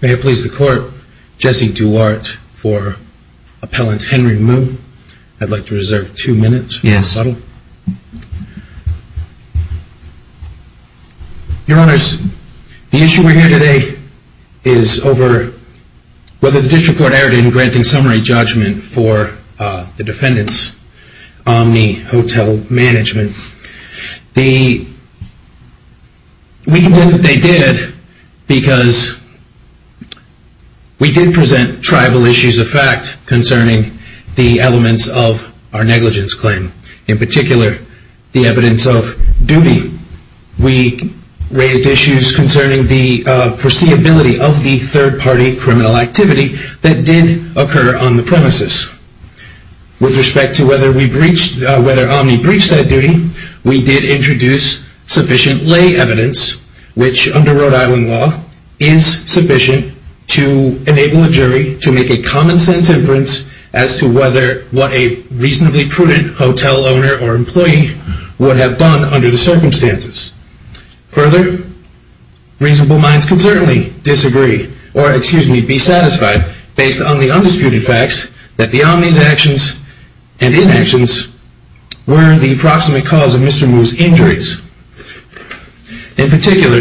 May it please the Court, Jesse Duarte for Appellant Henry Moon. I'd like to reserve two minutes. Yes. Your Honors, the issue we're here today is over whether the District Court erred in granting because we did present tribal issues of fact concerning the elements of our negligence claim. In particular, the evidence of duty. We raised issues concerning the foreseeability of the third party criminal activity that did occur on the premises. With respect to whether Omni breached that duty, we did introduce sufficient lay evidence, which under Rhode Island law, is sufficient to enable a jury to make a common sense inference as to whether what a reasonably prudent hotel owner or employee would have done under the circumstances. Further, reasonable minds can certainly disagree, or excuse me, be satisfied based on the undisputed facts that the Omni's actions and inactions were the proximate cause of Mr. Moon's injuries. In particular,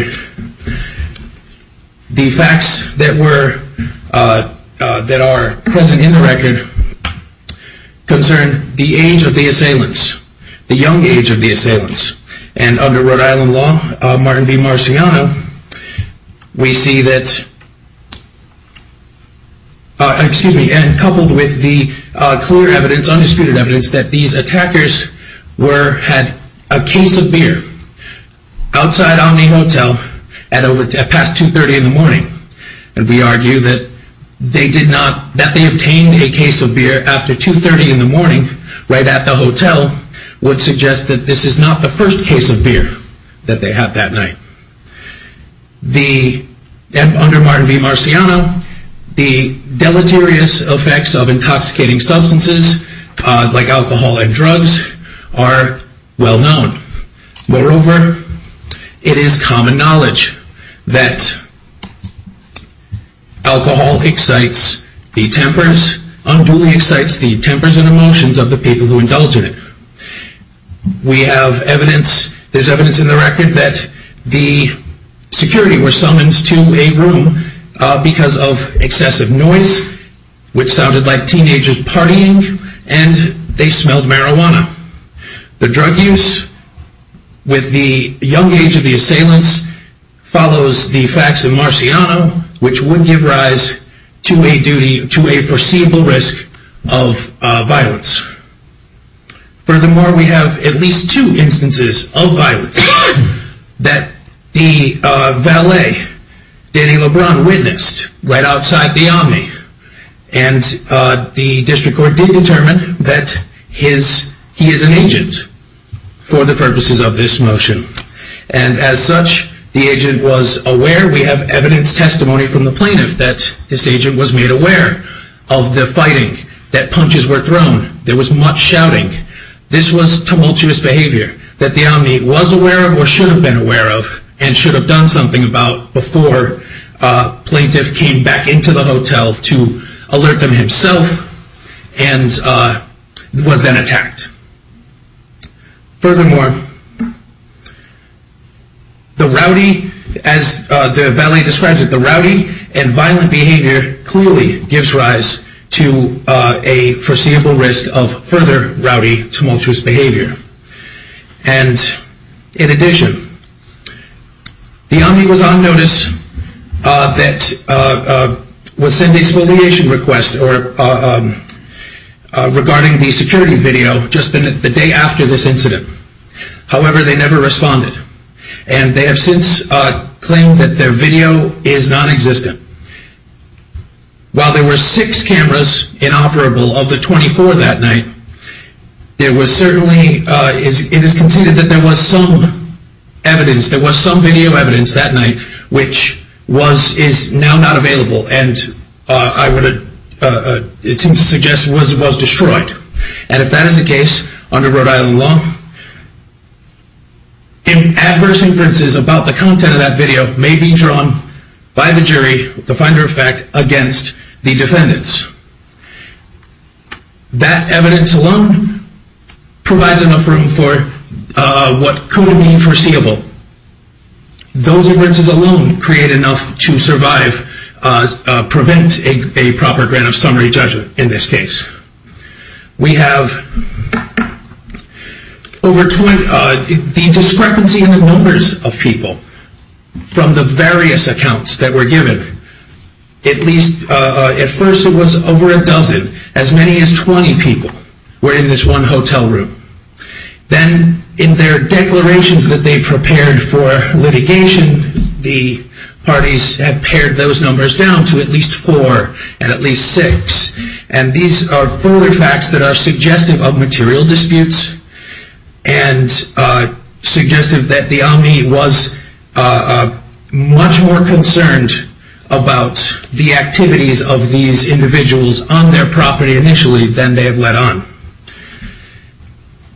the facts that are present in the record concern the age of the assailants, the young age of the assailants. And under Rhode Island law, Martin v. Marciano, we see that, excuse me, and coupled with the clear evidence, undisputed evidence, that these attackers were, had a case of beer outside Omni Hotel at past 2.30 in the morning. And we argue that they did not, that they obtained a case of beer after 2.30 in the morning right at the hotel would suggest that this is not the first case of beer that they had that night. The, under Martin v. Marciano, the deleterious effects of intoxicating substances like alcohol and drugs are well known. Moreover, it is common knowledge that alcohol excites the tempers, unduly excites the tempers and emotions of the people who indulge in it. We have evidence, there's evidence in the record, that the security were summoned to a room because of excessive noise, which sounded like teenagers partying and they smelled marijuana. The drug use with the young age of the assailants follows the facts of Marciano, which would give rise to a duty, to a foreseeable risk of violence. Furthermore, we have at least two instances of violence that the valet, Danny LeBron, witnessed right outside the Omni and the district court did determine that his, he is an agent for the purposes of this motion. And as such, the agent was aware, we have evidence, testimony from the plaintiff that this agent was made aware of the fighting, that punches were thrown, there was much shouting. This was tumultuous behavior that the Omni was aware of or should have been aware of and should have done something about before a plaintiff came back into the hotel to alert them himself and was then attacked. Furthermore, the rowdy, as the valet describes it, the rowdy and violent behavior clearly gives rise to a foreseeable risk of further rowdy, tumultuous behavior. And in addition, the Omni was on notice that was sent a spoliation request regarding the security video just the day after this incident. However, they never responded. And they have since claimed that their video is non-existent. While there were six cameras inoperable of the 24 that night, there was certainly, it is conceded that there was some evidence, there was some video evidence that night which was, is now not available and I would, it seems to suggest was destroyed. And if that is the case under Rhode Island law, adverse inferences about the content of that video may be drawn by the jury, the finder of fact, against the defendants. That evidence alone provides enough room for what could have been foreseeable. Those inferences alone create enough to survive, prevent a proper grant of summary judgment in this case. We have over 20, the discrepancy in the numbers of people from the various accounts that were given, at least at first it was over a dozen, as many as 20 people were in this one hotel room. Then in their numbers down to at least four and at least six. And these are further facts that are suggestive of material disputes and suggestive that the Omni was much more concerned about the activities of these individuals on their property initially than they have let on.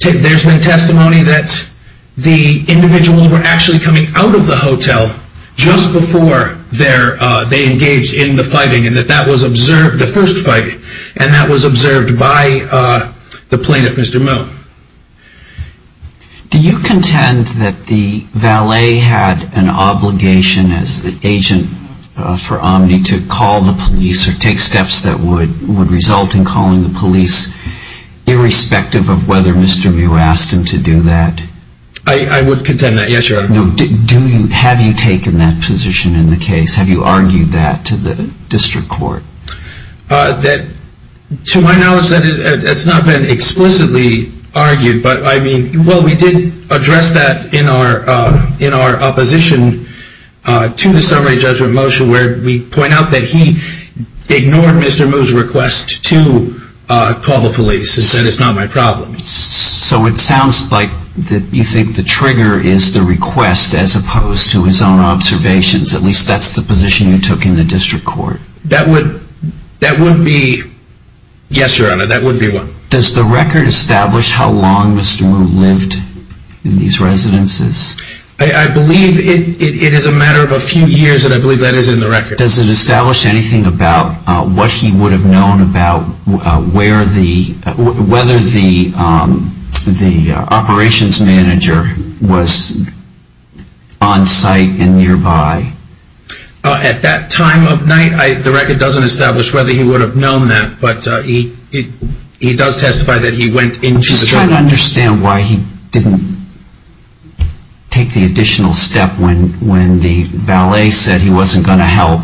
There's been testimony that the individuals were actually coming out of the hotel just before they engaged in the fighting and that that was observed, the first fight, and that was observed by the plaintiff, Mr. Mou. Do you contend that the valet had an obligation as the agent for Omni to call the police or take steps that would result in calling the police irrespective of whether Mr. Mou asked him to do that? I would contend that, yes, but have you taken that position in the case? Have you argued that to the district court? To my knowledge, that has not been explicitly argued, but I mean, well, we did address that in our opposition to the summary judgment motion where we point out that he ignored Mr. Mou's request to call the police and said it's not my problem. So it sounds like you think the trigger is the request as opposed to his own observations. At least that's the position you took in the district court. That would be, yes, Your Honor, that would be one. Does the record establish how long Mr. Mou lived in these residences? I believe it is a matter of a few years and I believe that is in the record. Does it establish anything about what he would have known about whether the operations manager was on site and nearby? At that time of night, the record doesn't establish whether he would have known that, but he does testify that he went into the... I'm just trying to understand why he didn't take the additional step when the valet said he wasn't going to help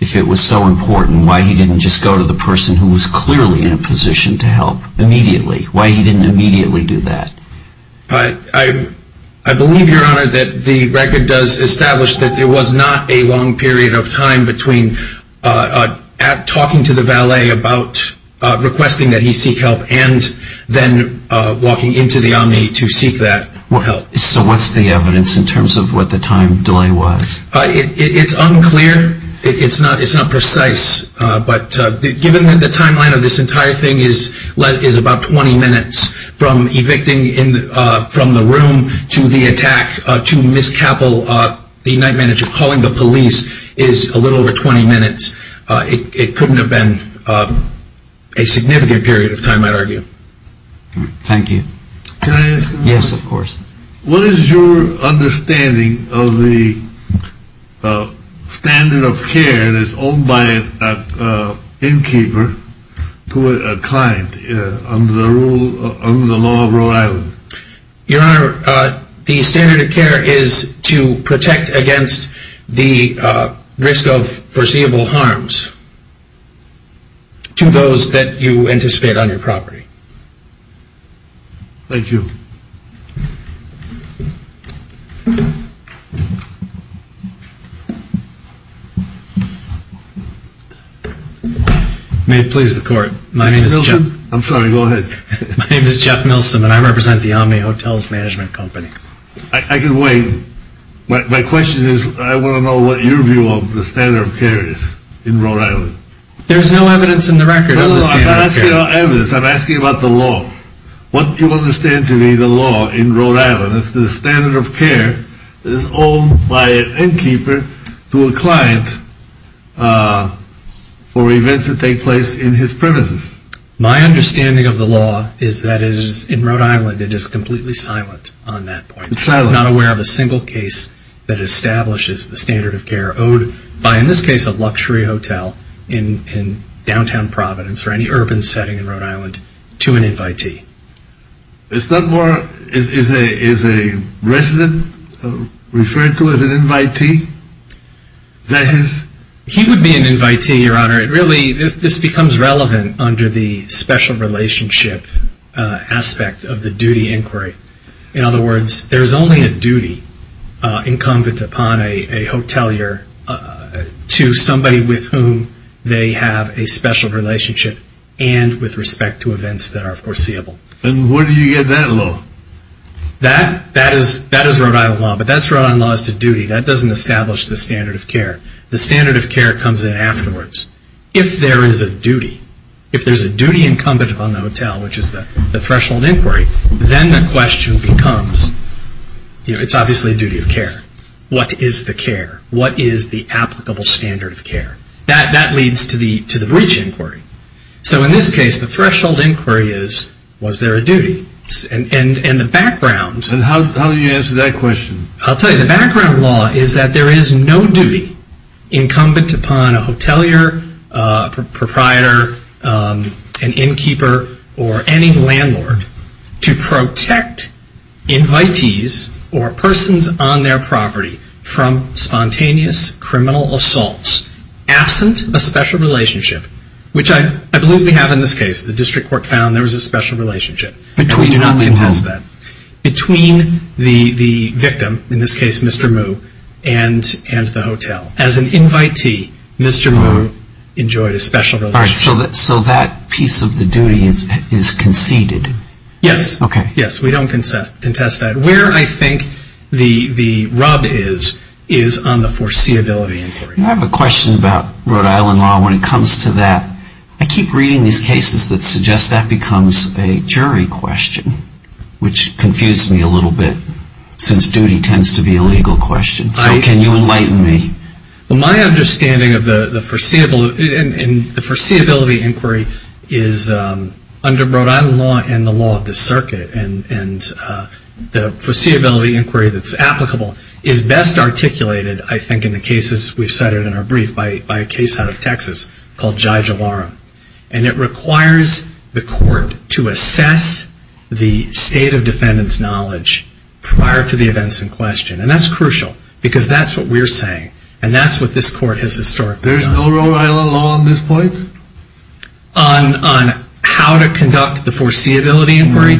if it was so important. Why he didn't just go to the person who was clearly in a position to help immediately? Why he didn't immediately do that? I believe, Your Honor, that the record does establish that there was not a long period of time between talking to the valet about requesting that he seek help and then walking into the Omni to seek that help. So what's the evidence in terms of what the time delay was? It's unclear. It's not precise. But given that the timeline of this entire thing is about 20 minutes from evicting from the room to the attack to Ms. Capple, the night manager calling the police, is a little over 20 minutes. It couldn't have been a significant period of time, I'd argue. Thank you. Can I ask a question? Yes, of course. What is your understanding of the standard of care that's owned by an innkeeper to a client under the law of Rhode Island? Your Honor, the standard of care is to protect against the risk of foreseeable harms to those that you anticipate on your property. Thank you. May it please the court. My name is Jeff. I'm sorry, go ahead. My name is Jeff Milsom and I represent the Omni Hotels Management Company. I can wait. My question is I want to know what your view of the standard of care is in Rhode Island. There's no evidence in the record of the standard of care. I'm asking about the law. What you understand to be the law in Rhode Island is the standard of care is owned by an innkeeper to a client for events that take place in his premises. My understanding of the law is that in Rhode Island it is completely silent on that point. It's silent. I'm not aware of a single case that establishes the standard of care owed by, in this case, a luxury hotel in downtown Providence or any urban setting in Rhode Island to an invitee. Is a resident referred to as an invitee? This becomes relevant under the special relationship aspect of the duty inquiry. In other words, there's only a duty incumbent upon a hotelier to somebody with whom they have a special relationship and with respect to events that are foreseeable. Where do you get that law? That is Rhode Island law, but that's Rhode Island law as to duty. That doesn't establish the standard of care. The standard of care comes in afterwards. If there is a duty, if there's a duty incumbent upon the hotel, which is the threshold inquiry, then the question becomes, it's obviously a duty of care. What is the care? What is the applicable standard of care? That leads to the breach inquiry. In this case, the threshold inquiry is, was there a duty? The background... How do you answer that question? I'll tell you. The background law is that there is no duty incumbent upon a hotelier, proprietor, an innkeeper, or any landlord to protect invitees or persons on their property from spontaneous criminal assaults, absent a special relationship, which I believe we have in this case. The district court found there was a special relationship. And we do not contest that. Between the victim, in this case Mr. Moo, and the hotel. As an invitee, Mr. Moo enjoyed a special relationship. So that piece of the duty is conceded? Yes. Okay. Yes, we don't contest that. Where I think the rub is, is on the foreseeability inquiry. I have a question about Rhode Island law when it comes to that. I keep reading these cases that suggest that becomes a jury question, which confuses me a little bit, since duty tends to be a legal question. So can you enlighten me? My understanding of the foreseeability inquiry is under Rhode Island law and the law of the circuit. And the foreseeability inquiry that's applicable is best articulated, I think, in the cases we've cited in our brief by a case out of Texas called Jai Jalaram. And it requires the court to assess the state of defendant's knowledge prior to the events in question. And that's crucial, because that's what we're saying. And that's what this court has historically done. There's no Rhode Island law on this point? On how to conduct the foreseeability inquiry,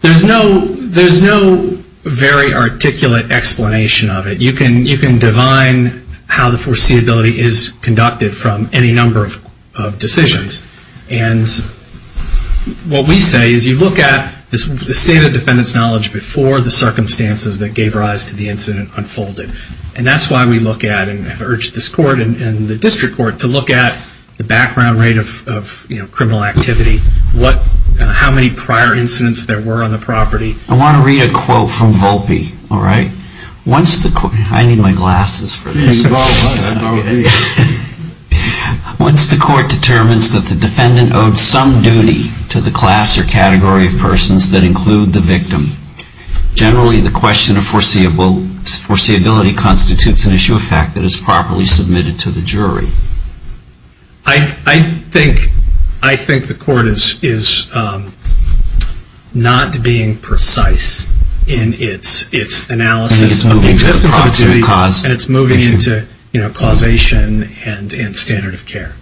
there's no very articulate explanation of it. You can divine how the foreseeability is conducted from any number of decisions. And what we say is you look at the state of defendant's knowledge before the circumstances that gave rise to the incident unfolded. And that's why we look at and have urged this court and the district court to look at the background rate of criminal activity, how many prior incidents there were on the property. I want to read a quote from Volpe. I need my glasses for this. Once the court determines that the defendant owed some duty to the class or category of persons that include the victim, generally the question of foreseeability constitutes an issue of fact that is properly submitted to the jury. I think the court is not being precise in its analysis of the existence of a jury. And it's moving into causation and standard of care.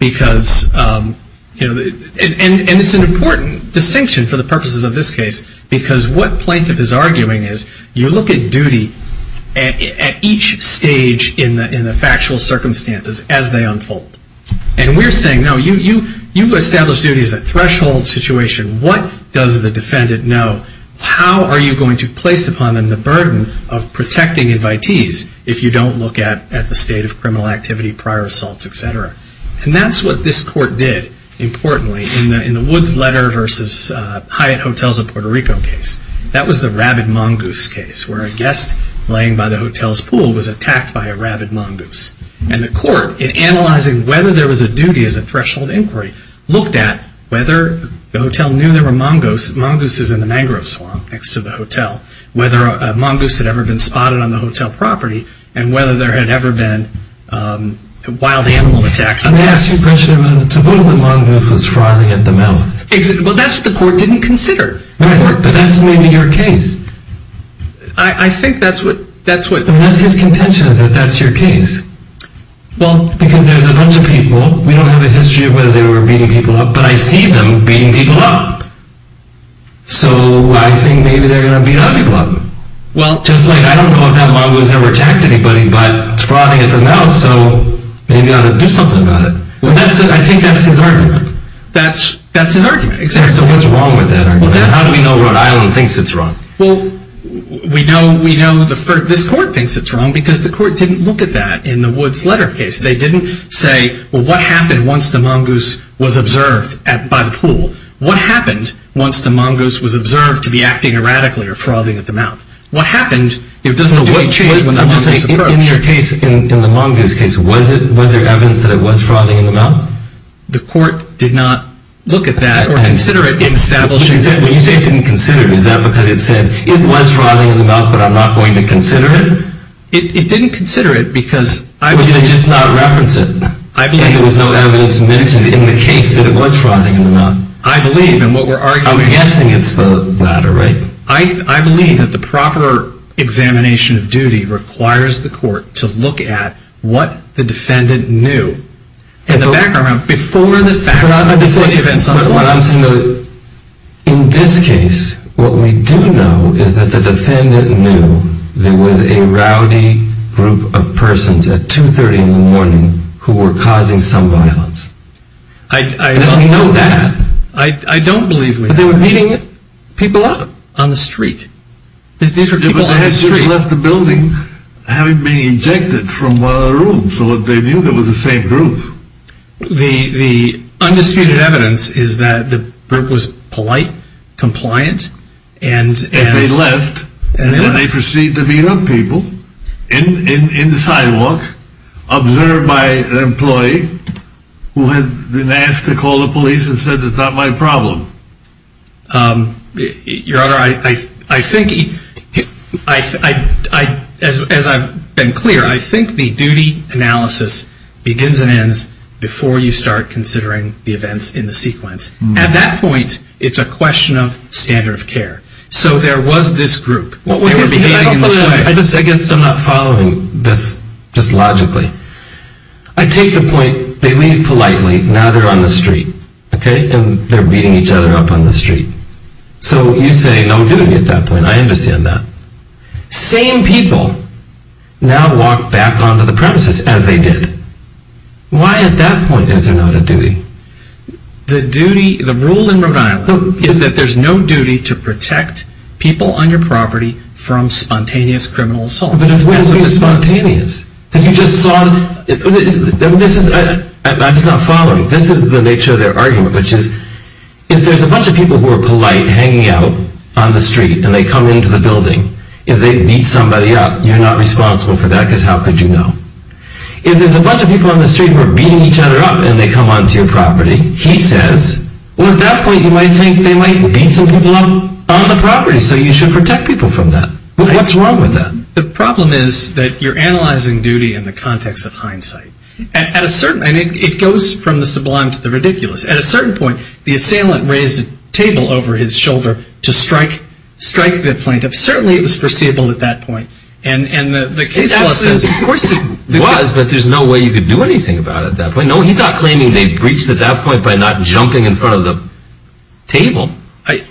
And it's an important distinction for the purposes of this case. Because what plaintiff is arguing is you look at duty at each stage in the factual circumstances as they unfold. And we're saying, no, you establish duty as a threshold situation. What does the defendant know? How are you going to place upon them the burden of protecting invitees if you don't look at the state of criminal activity, prior assaults, et cetera? And that's what this court did, importantly, in the Woods letter versus Hyatt Hotels of Puerto Rico case. That was the rabid mongoose case where a guest laying by the hotel's pool was attacked by a rabid mongoose. And the court, in analyzing whether there was a duty as a threshold inquiry, looked at whether the hotel knew there were mongooses in the mangrove swamp next to the hotel, whether a mongoose had ever been spotted on the hotel property, and whether there had ever been wild animal attacks on guests. Let me ask you a question about suppose the mongoose was frothing at the mouth. Well, that's what the court didn't consider. Right, but that's maybe your case. I think that's what, that's what. That's his contention is that that's your case. Well, because there's a bunch of people. We don't have a history of whether they were beating people up. But I see them beating people up. So I think maybe they're going to beat other people up. Just like I don't know if that mongoose ever attacked anybody, but it's frothing at the mouth, so maybe ought to do something about it. I think that's his argument. That's his argument, exactly. So what's wrong with that argument? How do we know Rhode Island thinks it's wrong? Well, we know this court thinks it's wrong because the court didn't look at that in the Woods letter case. They didn't say, well, what happened once the mongoose was observed by the pool? What happened once the mongoose was observed to be acting erratically or frothing at the mouth? What happened? It doesn't do any change when the mongoose approached. I'm just saying in your case, in the mongoose case, was there evidence that it was frothing in the mouth? The court did not look at that or consider it in establishing. When you say it didn't consider, is that because it said it was frothing in the mouth but I'm not going to consider it? It didn't consider it because. They just did not reference it. I believe. There was no evidence mentioned in the case that it was frothing in the mouth. I believe in what we're arguing. I'm guessing it's the latter, right? I believe that the proper examination of duty requires the court to look at what the defendant knew in the background before the facts of the events unfold. In this case, what we do know is that the defendant knew there was a rowdy group of persons at 2.30 in the morning who were causing some violence. I don't know that. I don't believe that. They were beating people up on the street. They had just left the building having been ejected from a room so they knew there was the same group. The undisputed evidence is that the group was polite, compliant, and If they left, then they proceeded to beat up people in the sidewalk observed by an employee who had been asked to call the police and said it's not my problem. Your Honor, I think, as I've been clear, I think the duty analysis begins and ends before you start considering the events in the sequence. At that point, it's a question of standard of care. So there was this group. I guess I'm not following this just logically. I take the point they leave politely, now they're on the street. They're beating each other up on the street. So you say no duty at that point. I understand that. Same people now walk back onto the premises as they did. Why at that point is there not a duty? The duty, the rule in Rhode Island is that there's no duty to protect people on your property from spontaneous criminal assault. That's not following. This is the nature of their argument, which is if there's a bunch of people who are polite hanging out on the street and they come into the building, if they beat somebody up, you're not responsible for that because how could you know? If there's a bunch of people on the street who are beating each other up and they come onto your property, he says, well, at that point, you might think they might beat some people up on the property, so you should protect people from that. What's wrong with that? The problem is that you're analyzing duty in the context of hindsight. And it goes from the sublime to the ridiculous. At a certain point, the assailant raised a table over his shoulder to strike the plaintiff. Certainly, it was foreseeable at that point. Of course it was, but there's no way you could do anything about it at that point. No, he's not claiming they breached at that point by not jumping in front of the table.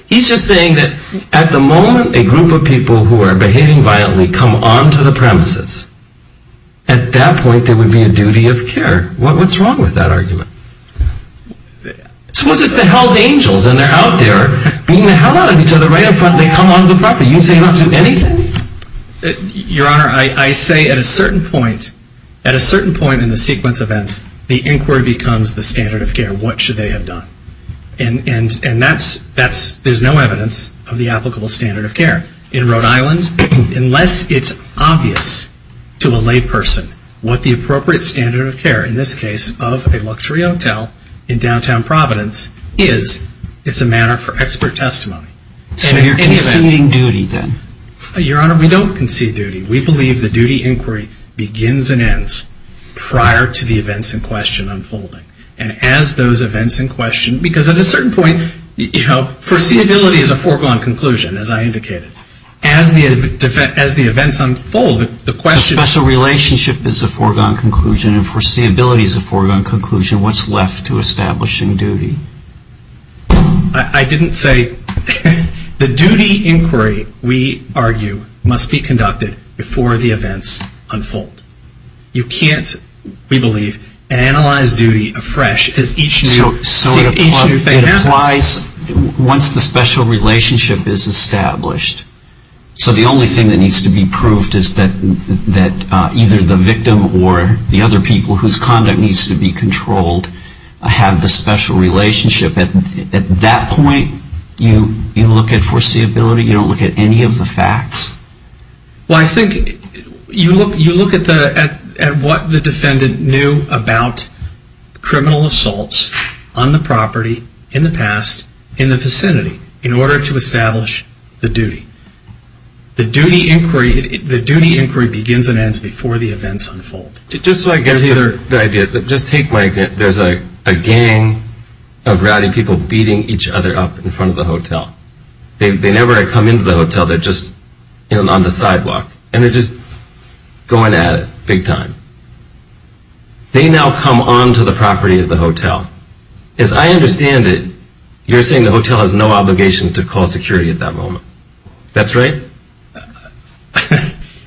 He's just saying that at the moment, a group of people who are behaving violently come onto the premises. At that point, there would be a duty of care. What's wrong with that argument? Suppose it's the hell's angels and they're out there beating the hell out of each other right up front and they come onto the property. You say not to do anything? Your Honor, I say at a certain point, at a certain point in the sequence of events, the inquiry becomes the standard of care. What should they have done? And there's no evidence of the applicable standard of care. In Rhode Island, unless it's obvious to a layperson what the appropriate standard of care, in this case, of a luxury hotel in downtown Providence is, it's a matter for expert testimony. So you're conceding duty then? Your Honor, we don't concede duty. We believe the duty inquiry begins and ends prior to the events in question unfolding. And as those events in question, because at a certain point, foreseeability is a foregone conclusion, as I indicated. As the events unfold, the question... So special relationship is a foregone conclusion and foreseeability is a foregone conclusion. What's left to establish in duty? I didn't say... The duty inquiry, we argue, must be conducted before the events unfold. You can't, we believe, analyze duty afresh as each new thing happens. So it applies once the special relationship is established. So the only thing that needs to be proved is that either the victim or the other people whose conduct needs to be controlled have the special relationship. At that point, you look at foreseeability? You don't look at any of the facts? Well, I think you look at what the defendant knew about criminal assaults on the property, in the past, in the vicinity, in order to establish the duty. The duty inquiry begins and ends before the events unfold. Just so I get the idea, just take my example. There's a gang of rowdy people beating each other up in front of the hotel. They never come into the hotel, they're just on the sidewalk. And they're just going at it, big time. They now come onto the property of the hotel. As I understand it, you're saying the hotel has no obligation to call security at that moment. That's right?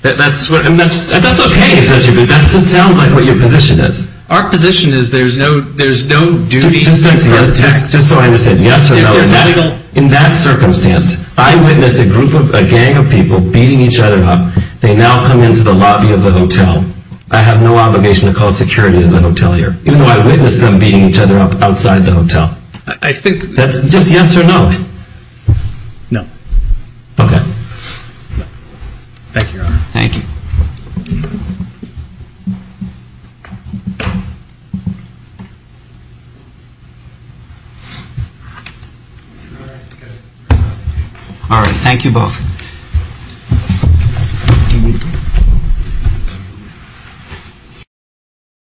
That's okay. That sounds like what your position is. Our position is there's no duty... Just so I understand, yes or no? In that circumstance, I witness a gang of people beating each other up. They now come into the lobby of the hotel. I have no obligation to call security at the hotel here. Even though I witness them beating each other up outside the hotel. I think... Just yes or no? No. Okay. Thank you, Your Honor. Thank you. All right. Thank you both.